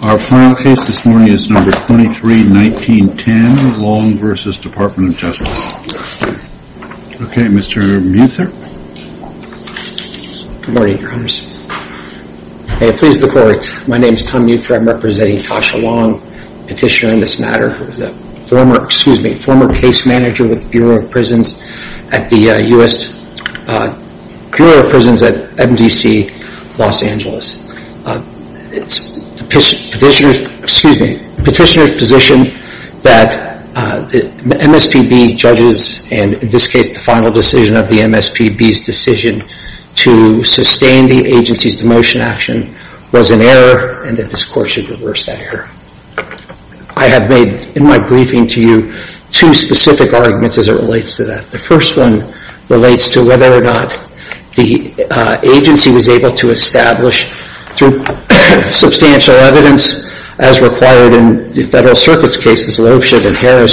Our final case this morning is No. 23-1910, Long v. Department of Justice. Okay, Mr. Muthra. Good morning, Your Honors. May it please the Court, my name is Tom Muthra. I'm representing Tasha Long, Petitioner in this matter, former case manager with the Bureau of Prisons at MDC Los Angeles. Petitioners position that the MSPB judges and in this case the final decision of the MSPB's decision to sustain the agency's demotion action was an error and that this Court should reverse that error. I have made in my briefing to you two specific arguments as it relates to that. The first one relates to whether or not the agency was able to establish through substantial evidence, as required in the Federal Circuit's cases Loebsch and Harris,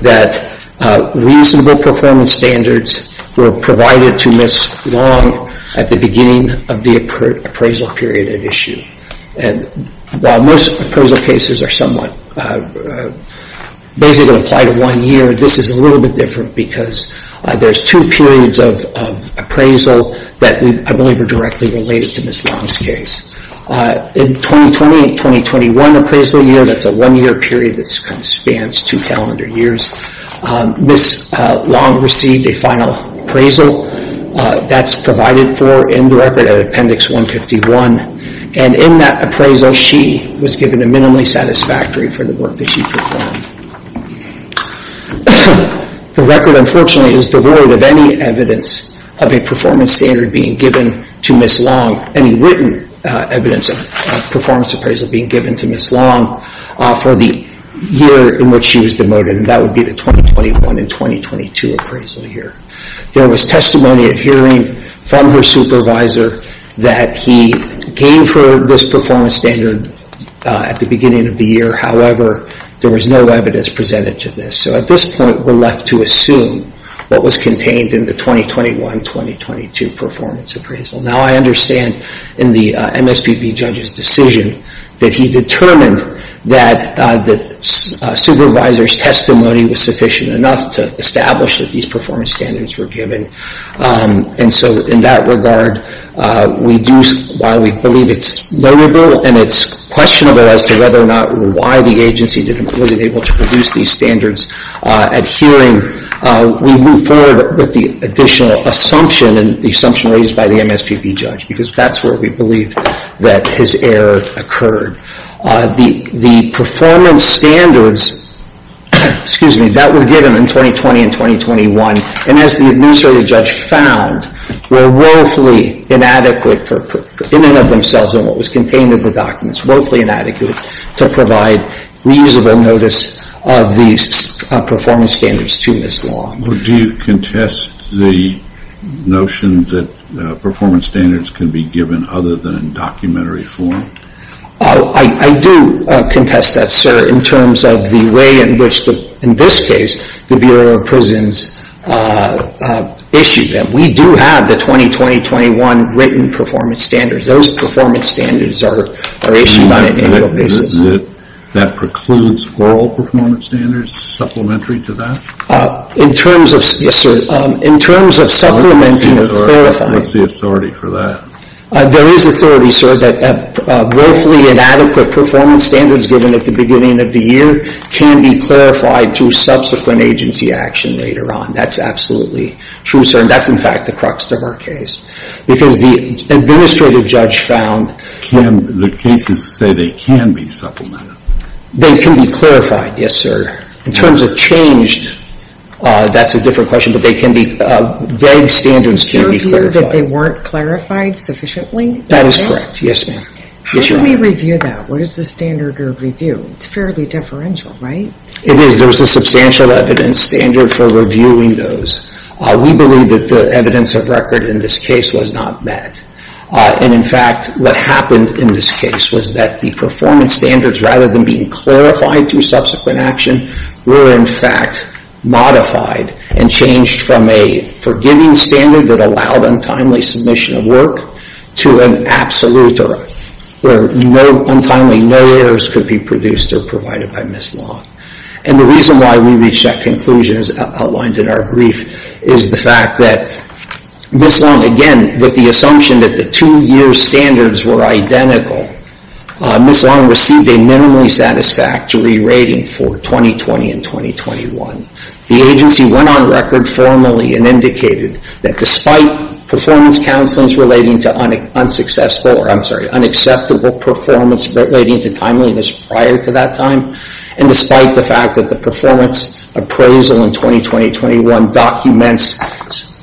that reasonable performance standards were provided to Ms. Long at the beginning of the appraisal period at issue. While most appraisal cases are somewhat, basically apply to one year, this is a little bit different because there's two periods of appraisal that I believe are directly related to Ms. Long's case. In 2020 and 2021 appraisal year, that's a one-year period that spans two calendar years, Ms. Long received a final appraisal. That's provided for in the record at Appendix 151. And in that appraisal, she was given a minimally satisfactory for the work that she performed. The record, unfortunately, is devoid of any evidence of a performance standard being given to Ms. Long, any written evidence of a performance appraisal being given to Ms. Long for the year in which she was demoted, and that would be the 2021 and 2022 appraisal year. There was testimony at hearing from her supervisor that he gave her this performance standard at the beginning of the year. However, there was no evidence presented to this. So at this point, we're left to assume what was contained in the 2021-2022 performance appraisal. Now, I understand in the MSPB judge's decision that he determined that the supervisor's testimony was sufficient enough to establish that these performance standards were given. And so in that regard, we do, while we believe it's learnable and it's questionable as to whether or not or why the agency didn't really able to produce these standards at hearing, we move forward with the additional assumption and the assumption raised by the MSPB judge, because that's where we believe that his error occurred. The performance standards, excuse me, that were given in 2020 and 2021, and as the administrative judge found, were woefully inadequate in and of themselves in what was contained in the documents, woefully inadequate to provide reasonable notice of these performance standards to Ms. Long. Do you contest the notion that performance standards can be given other than in documentary form? I do contest that, sir, in terms of the way in which, in this case, the Bureau of Prisons issued them. We do have the 2020-2021 written performance standards. Those performance standards are issued on an annual basis. That precludes oral performance standards supplementary to that? In terms of, yes, sir, in terms of supplementing and clarifying. What's the authority for that? There is authority, sir, that woefully inadequate performance standards given at the beginning of the year can be clarified through subsequent agency action later on. That's absolutely true, sir, and that's, in fact, the crux of our case, because the administrative judge found… Can the cases say they can be supplemented? They can be clarified, yes, sir. In terms of changed, that's a different question, but they can be, vague standards can be clarified. You review that they weren't clarified sufficiently? That is correct, yes, ma'am. How do we review that? What is the standard of review? It's fairly deferential, right? It is. There's a substantial evidence standard for reviewing those. We believe that the evidence of record in this case was not met. And, in fact, what happened in this case was that the performance standards, rather than being clarified through subsequent action, were, in fact, modified and changed from a forgiving standard that allowed untimely submission of work to an absolute, where untimely no errors could be produced or provided by Ms. Long. And the reason why we reached that conclusion, as outlined in our brief, is the fact that Ms. Long, again, with the assumption that the two-year standards were identical, Ms. Long received a minimally satisfactory rating for 2020 and 2021. The agency went on record formally and indicated that despite performance counseling relating to unsuccessful, or I'm sorry, unacceptable performance relating to timeliness prior to that time, and despite the fact that the performance appraisal in 2020-21 documents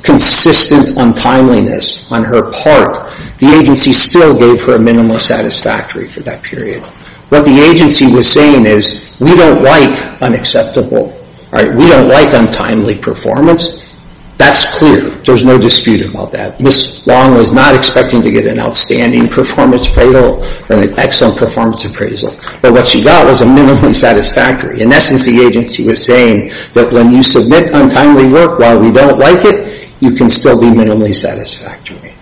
consistent untimeliness on her part, the agency still gave her a minimally satisfactory for that period. What the agency was saying is, we don't like unacceptable. We don't like untimely performance. That's clear. There's no dispute about that. Ms. Long was not expecting to get an outstanding performance appraisal or an excellent performance appraisal. But what she got was a minimally satisfactory. In essence, the agency was saying that when you submit untimely work while we don't like it, you can still be minimally satisfactory.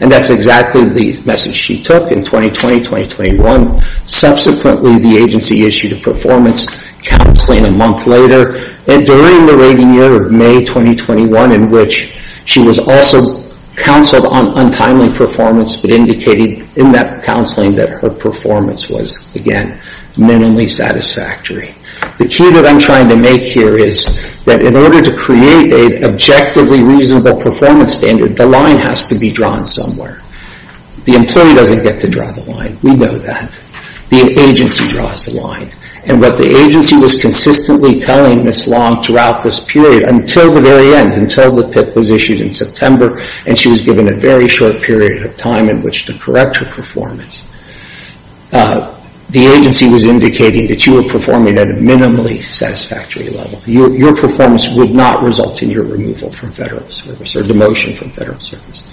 And that's exactly the message she took in 2020-2021. Subsequently, the agency issued a performance counseling a month later. And during the rating year of May 2021 in which she was also counseled on untimely performance but indicated in that counseling that her performance was, again, minimally satisfactory. The key that I'm trying to make here is that in order to create an objectively reasonable performance standard, the line has to be drawn somewhere. The employee doesn't get to draw the line. We know that. The agency draws the line. And what the agency was consistently telling Ms. Long throughout this period, until the very end, until the PIP was issued in September, and she was given a very short period of time in which to correct her performance, the agency was indicating that you were performing at a minimally satisfactory level. Your performance would not result in your removal from Federal service or demotion from Federal service.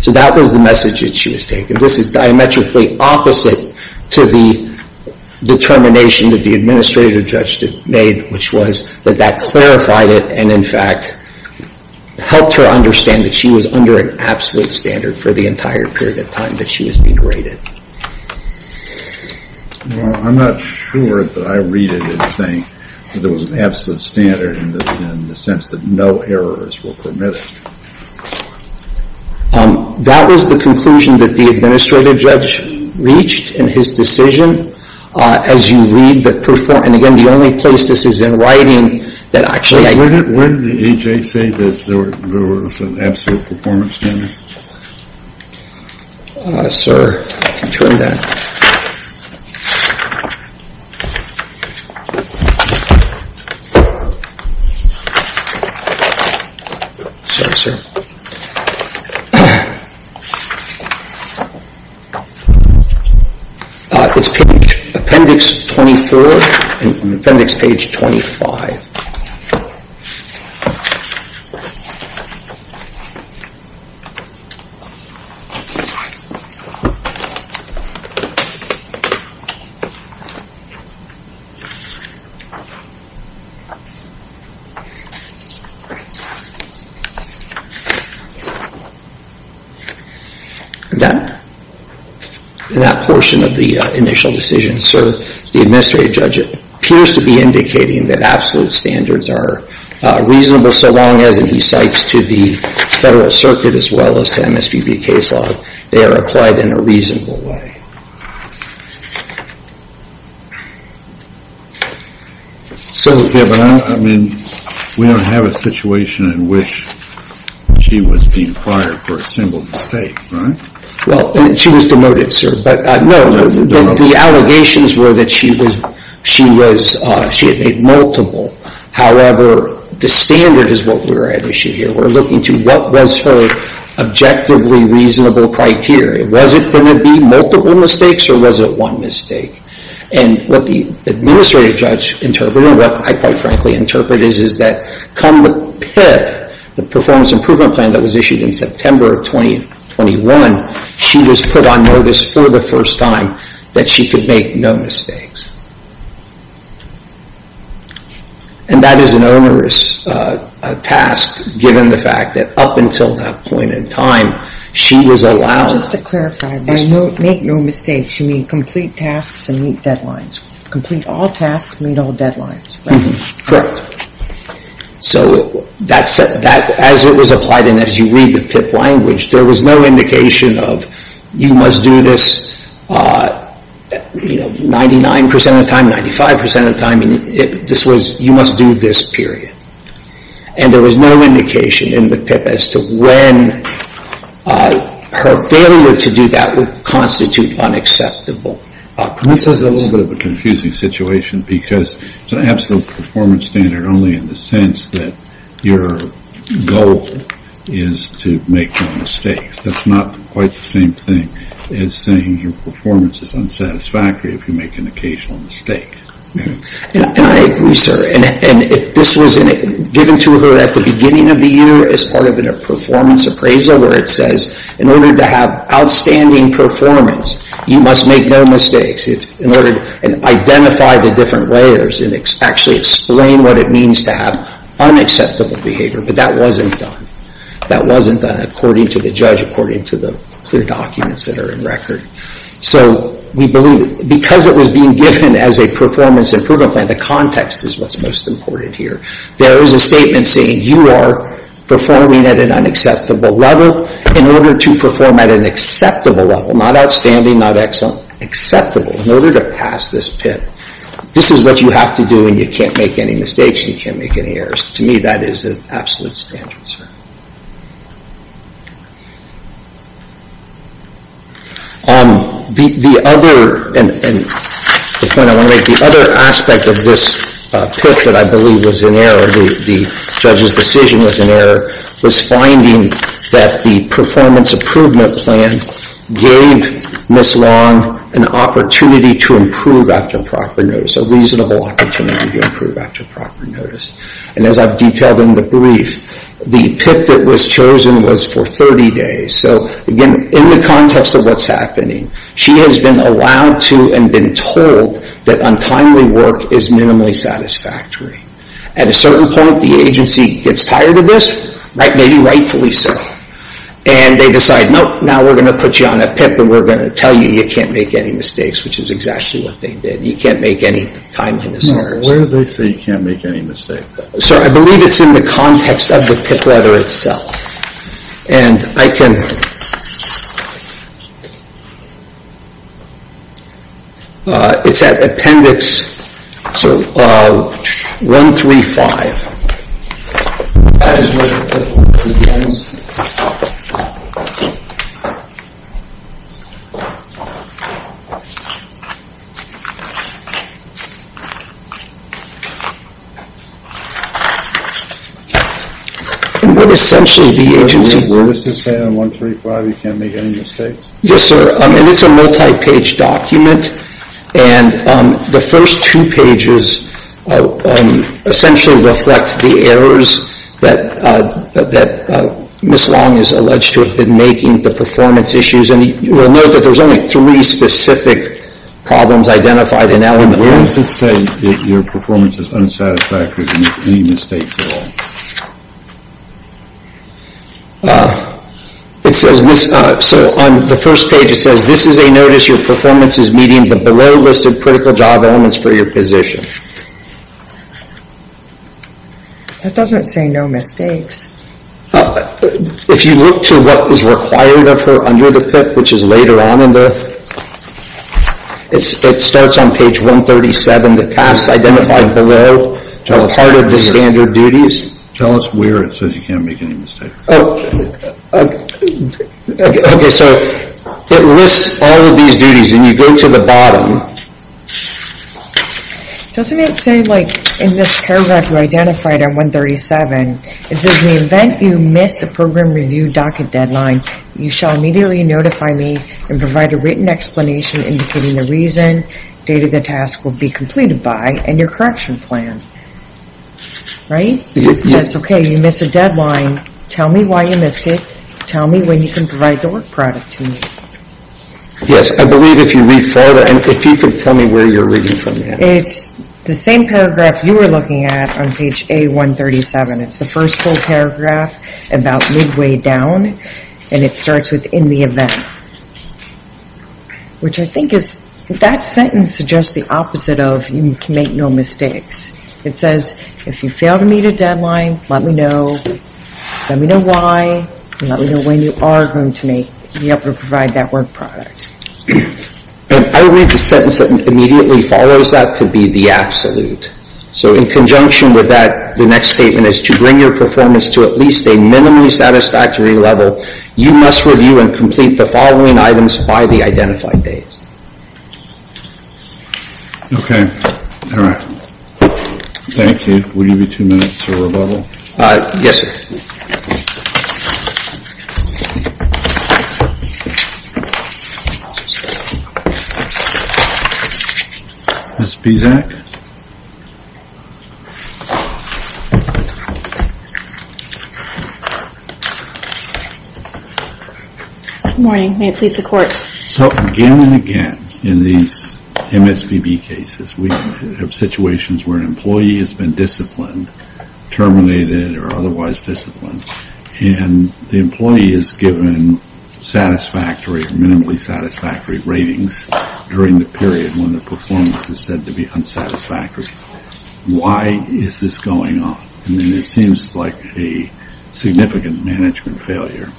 So that was the message that she was taking. This is diametrically opposite to the determination that the administrative judge made, which was that that clarified it and, in fact, helped her understand that she was under an absolute standard for the entire period of time that she was being rated. Well, I'm not sure that I read it as saying that there was an absolute standard in the sense that no errors were permitted. That was the conclusion that the administrative judge reached in his decision. As you read the performance, and again, the only place this is in writing, that actually I... Where did the AHA say that there was an absolute performance standard? Sir, you can turn that. It's page, appendix 23 and appendix page 25. That portion of the initial decision, sir, the administrative judge appears to be indicating that absolute standards are reasonable so long as, and he cites to the Federal Circuit as well as to MSPB case law, they are applied in a reasonable way. So, I mean, we don't have a situation in which she was being fired for a simple mistake, right? Well, she was demoted, sir. But no, the allegations were that she had made multiple. However, the standard is what we're at issue here. We're looking to what was her objectively reasonable criteria. Was it going to be multiple mistakes or was it one mistake? And what the administrative judge interpreted, what I quite frankly interpret is that come the PIP, the performance improvement plan that was issued in September of 2021, she was put on notice for the first time that she could make no mistakes. And that is an onerous task given the fact that up until that point in time, she was allowed. Just to clarify, make no mistakes. You mean complete tasks and meet deadlines. Complete all tasks, meet all deadlines. Correct. So as it was applied and as you read the PIP language, there was no indication of you must do this 99 percent of the time, 95 percent of the time. You must do this period. And there was no indication in the PIP as to when her failure to do that would constitute unacceptable. This is a little bit of a confusing situation because it's an absolute performance standard only in the sense that your goal is to make no mistakes. That's not quite the same thing as saying your performance is unsatisfactory if you make an occasional mistake. And I agree, sir. And if this was given to her at the beginning of the year as part of a performance appraisal where it says in order to have outstanding performance, you must make no mistakes, and identify the different layers and actually explain what it means to have unacceptable behavior. But that wasn't done. That wasn't done according to the judge, according to the clear documents that are in record. So we believe because it was being given as a performance improvement plan, the context is what's most important here. There is a statement saying you are performing at an unacceptable level in order to perform at an acceptable level, not outstanding, not excellent, acceptable, in order to pass this PIP. This is what you have to do and you can't make any mistakes and you can't make any errors. To me, that is an absolute standard, sir. The other aspect of this PIP that I believe was an error, the judge's decision was an error, was finding that the performance improvement plan gave Ms. Long an opportunity to improve after proper notice, a reasonable opportunity to improve after proper notice. And as I've detailed in the brief, the PIP that was chosen was for 30 days. So again, in the context of what's happening, she has been allowed to and been told that untimely work is minimally satisfactory. At a certain point, the agency gets tired of this, maybe rightfully so, and they decide, nope, now we're going to put you on a PIP and we're going to tell you you can't make any mistakes, which is exactly what they did. You can't make any timeliness errors. Where do they say you can't make any mistakes? Sir, I believe it's in the context of the PIP letter itself. And I can... It's at appendix 135. That is where the PIP begins? And what essentially the agency... What does this say on 135, you can't make any mistakes? Yes, sir. And it's a multi-page document, and the first two pages essentially reflect the errors that Ms. Long is alleged to have been making, the performance issues. And you will note that there's only three specific problems identified in element one. Where does it say your performance is unsatisfactory and you can't make any mistakes at all? It says Ms., so on the first page it says, this is a notice your performance is meeting the below listed critical job elements for your position. That doesn't say no mistakes. If you look to what is required of her under the PIP, which is later on in the... It starts on page 137, the tasks identified below are part of the standard duties. Tell us where it says you can't make any mistakes. Okay, so it lists all of these duties, and you go to the bottom. Doesn't it say, like, in this paragraph you identified on 137, it says in the event you miss the program review docket deadline, you shall immediately notify me and provide a written explanation indicating the reason, date of the task will be completed by, and your correction plan. Right? It says, okay, you miss a deadline, tell me why you missed it, tell me when you can provide the work product to me. Yes, I believe if you read further, and if you could tell me where you're reading from here. It's the same paragraph you were looking at on page A137. It's the first full paragraph about midway down, and it starts with in the event. Which I think is, that sentence suggests the opposite of you can make no mistakes. It says, if you fail to meet a deadline, let me know. Let me know why, and let me know when you are going to be able to provide that work product. And I read the sentence that immediately follows that to be the absolute. So in conjunction with that, the next statement is to bring your performance to at least a minimally satisfactory level. You must review and complete the following items by the identified dates. Okay. All right. Thank you. We'll give you two minutes to rebuttal. Yes, sir. Ms. Pizak? Good morning. May it please the Court. So again and again, in these MSBB cases, we have situations where an employee has been disciplined, terminated, or otherwise disciplined. And the employee is given satisfactory, minimally satisfactory ratings during the period when the performance is said to be unsatisfactory. Why is this going on? I mean, it seems like a significant management failure.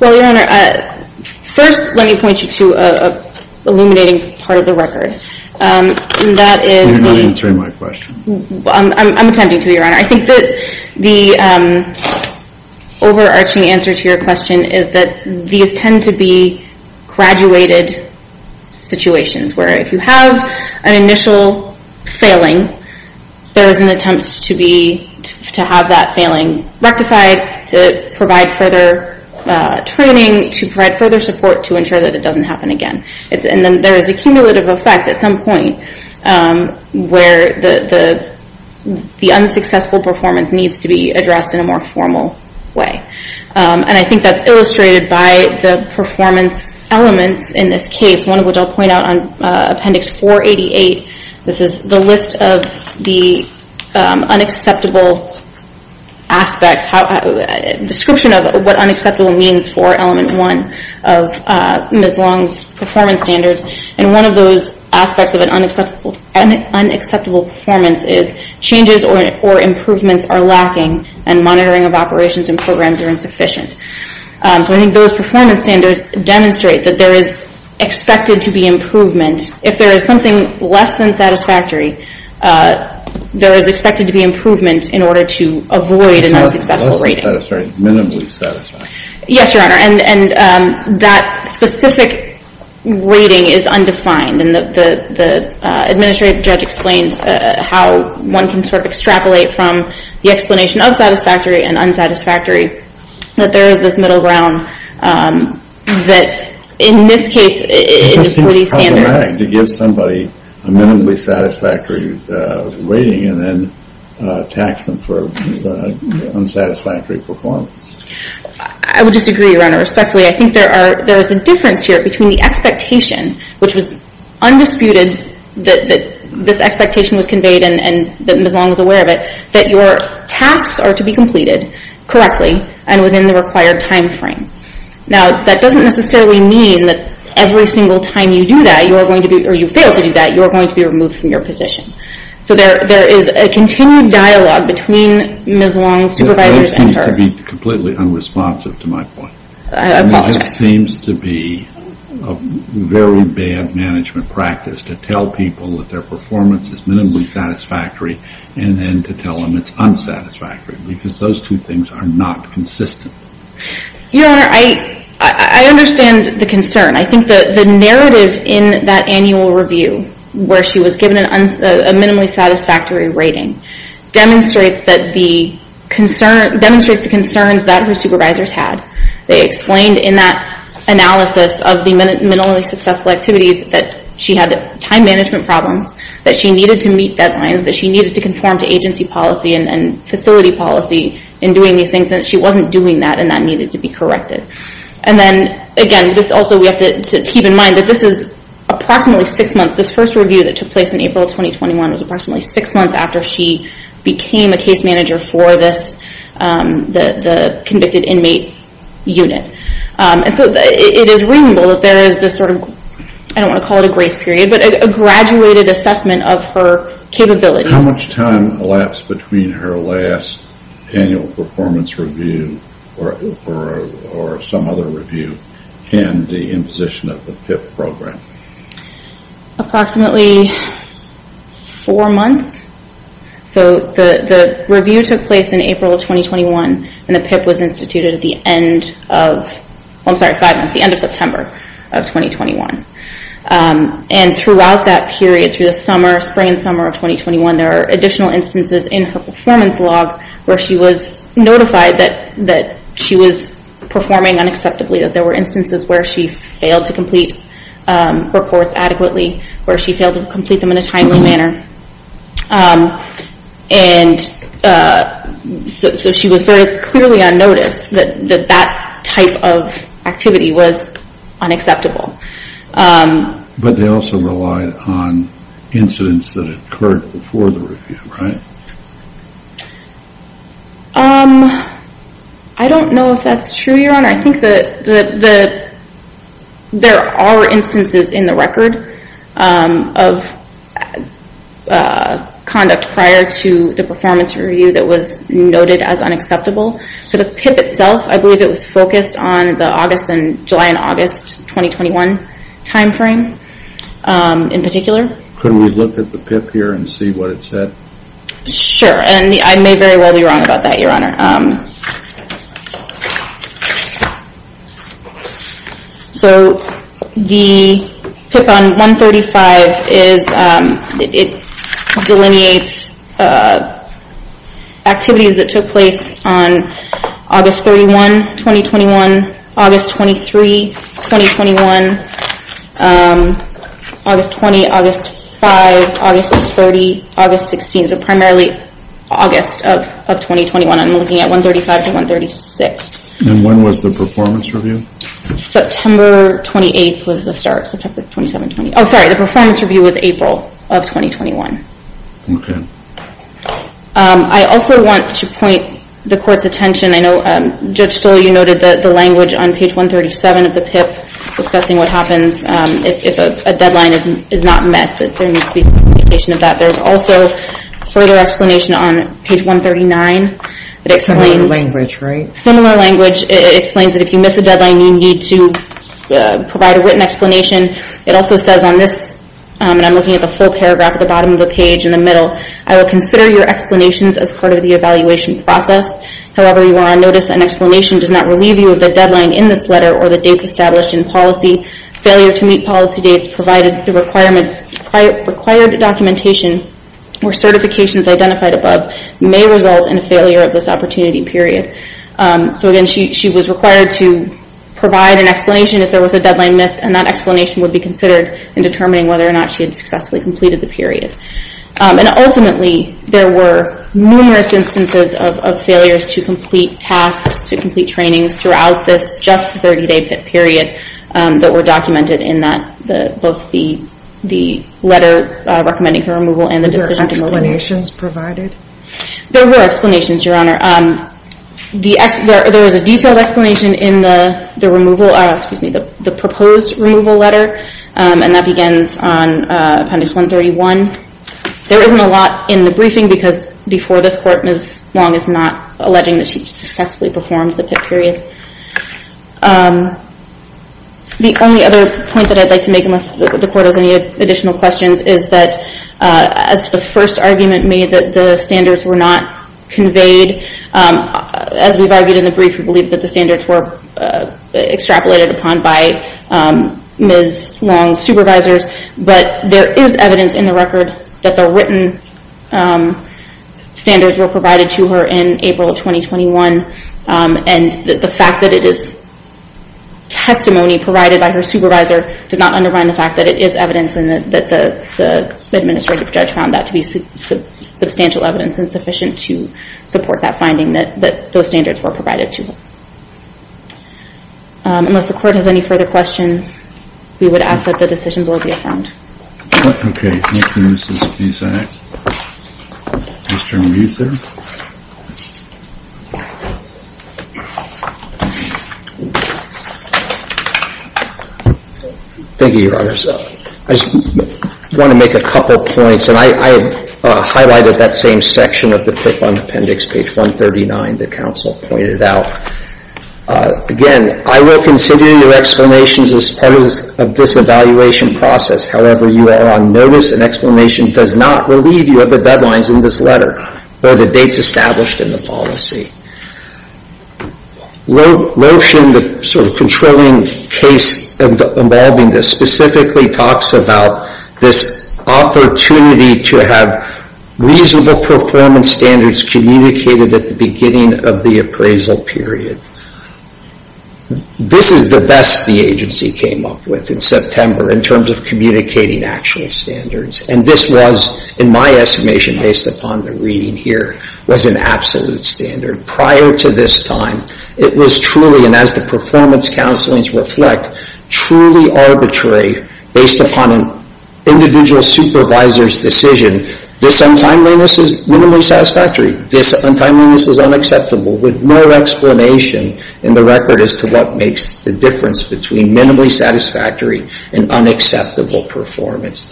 Well, Your Honor, first let me point you to an illuminating part of the record. And that is the… You're not answering my question. I'm attempting to, Your Honor. I think that the overarching answer to your question is that these tend to be graduated situations, where if you have an initial failing, there is an attempt to have that failing rectified to provide further training, to provide further support, to ensure that it doesn't happen again. And then there is a cumulative effect at some point where the unsuccessful performance needs to be addressed in a more formal way. And I think that's illustrated by the performance elements in this case, one of which I'll point out on Appendix 488. This is the list of the unacceptable aspects, description of what unacceptable means for Element 1 of Ms. Long's performance standards. And one of those aspects of an unacceptable performance is changes or improvements are lacking and monitoring of operations and programs are insufficient. So I think those performance standards demonstrate that there is expected to be improvement. If there is something less than satisfactory, there is expected to be improvement in order to avoid an unsuccessful rating. Less than satisfactory, minimally satisfactory. Yes, Your Honor. And that specific rating is undefined. And the administrative judge explained how one can sort of extrapolate from the explanation of satisfactory and unsatisfactory that there is this middle ground that, in this case, in these standards It just seems problematic to give somebody a minimally satisfactory rating and then tax them for unsatisfactory performance. I would disagree, Your Honor, respectfully. I think there is a difference here between the expectation, which was undisputed that this expectation was conveyed and that Ms. Long was aware of it, that your tasks are to be completed correctly and within the required time frame. Now, that doesn't necessarily mean that every single time you do that, or you fail to do that, you are going to be removed from your position. So there is a continued dialogue between Ms. Long's supervisors and her... It seems to be completely unresponsive to my point. I apologize. It just seems to be a very bad management practice to tell people that their performance is minimally satisfactory and then to tell them it's unsatisfactory because those two things are not consistent. Your Honor, I understand the concern. I think the narrative in that annual review where she was given a minimally satisfactory rating demonstrates the concerns that her supervisors had. They explained in that analysis of the minimally successful activities that she had time management problems, that she needed to meet deadlines, that she needed to conform to agency policy and facility policy in doing these things, and that she wasn't doing that and that needed to be corrected. And then, again, also we have to keep in mind that this is approximately six months. This first review that took place in April 2021 was approximately six months after she became a case manager for the convicted inmate unit. And so it is reasonable that there is this sort of, I don't want to call it a grace period, but a graduated assessment of her capabilities. How much time elapsed between her last annual performance review or some other review and the imposition of the PIP program? Approximately four months. So the review took place in April of 2021 and the PIP was instituted at the end of, I'm sorry, five months, the end of September of 2021. And throughout that period, through the summer, spring and summer of 2021, there are additional instances in her performance log where she was notified that she was performing unacceptably, that there were instances where she failed to complete reports adequately, where she failed to complete them in a timely manner. And so she was very clearly on notice that that type of activity was unacceptable. But they also relied on incidents that occurred before the review, right? I don't know if that's true, Your Honor. I think that there are instances in the record of conduct prior to the performance review that was noted as unacceptable. For the PIP itself, I believe it was focused on the July and August 2021 timeframe in particular. Could we look at the PIP here and see what it said? Sure. And I may very well be wrong about that, Your Honor. So the PIP on 135, it delineates activities that took place on August 31, 2021, August 23, 2021, August 20, August 5, August 30, August 16. So primarily August of 2021. I'm looking at 135 to 136. And when was the performance review? September 28th was the start. Oh, sorry, the performance review was April of 2021. Okay. I also want to point the court's attention. I know, Judge Stoll, you noted the language on page 137 of the PIP discussing what happens if a deadline is not met, that there needs to be some indication of that. There's also further explanation on page 139. Similar language, right? Similar language. It explains that if you miss a deadline, you need to provide a written explanation. It also says on this, and I'm looking at the full paragraph at the bottom of the page in the middle, I will consider your explanations as part of the evaluation process. However, you are on notice that an explanation does not relieve you of the deadline in this letter or the dates established in policy. Failure to meet policy dates provided the required documentation or certifications identified above may result in a failure of this opportunity period. So, again, she was required to provide an explanation if there was a deadline missed, and that explanation would be considered in determining whether or not she had successfully completed the period. And ultimately, there were numerous instances of failures to complete tasks, to complete trainings throughout this just 30-day PIP period that were documented in both the letter recommending her removal and the decision to move on. Were explanations provided? There were explanations, Your Honor. There was a detailed explanation in the proposed removal letter, and that begins on appendix 131. There isn't a lot in the briefing because before this court, Ms. Long is not alleging that she successfully performed the PIP period. The only other point that I'd like to make, unless the court has any additional questions, is that as the first argument made that the standards were not conveyed, as we've argued in the brief, we believe that the standards were extrapolated upon by Ms. Long's supervisors. But there is evidence in the record that the written standards were provided to her in April of 2021, and the fact that it is testimony provided by her supervisor did not undermine the fact that it is evidence and that the administrative judge found that to be substantial evidence and sufficient to support that finding that those standards were provided to her. Unless the court has any further questions, we would ask that the decision board be affirmed. Okay. Thank you, Mrs. Visak. Mr. Muther? Thank you, Your Honor. I just want to make a couple points, and I highlighted that same section of the PIP on appendix page 139 that the counsel pointed out. Again, I will consider your explanations as part of this evaluation process. However, you are on notice, and explanation does not relieve you of the deadlines in this letter or the dates established in the policy. Lotion, the sort of controlling case involving this, specifically talks about this opportunity to have reasonable performance standards communicated at the beginning of the appraisal period. This is the best the agency came up with in September in terms of communicating actual standards, and this was, in my estimation based upon the reading here, was an absolute standard. Prior to this time, it was truly, and as the performance counselings reflect, truly arbitrary based upon an individual supervisor's decision. This untimeliness is minimally satisfactory. This untimeliness is unacceptable with no explanation in the record as to what makes the difference between minimally satisfactory and unacceptable performance.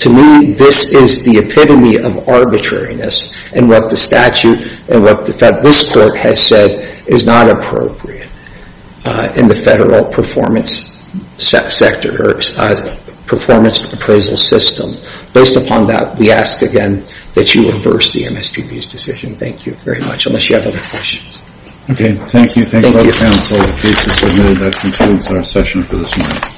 To me, this is the epitome of arbitrariness and what the statute and what this court has said is not appropriate in the federal performance sector or performance appraisal system. Based upon that, we ask again that you reverse the MSPB's decision. Thank you very much. Unless you have other questions. Okay, thank you. Thank you both counsel. The case is submitted. That concludes our session for this morning.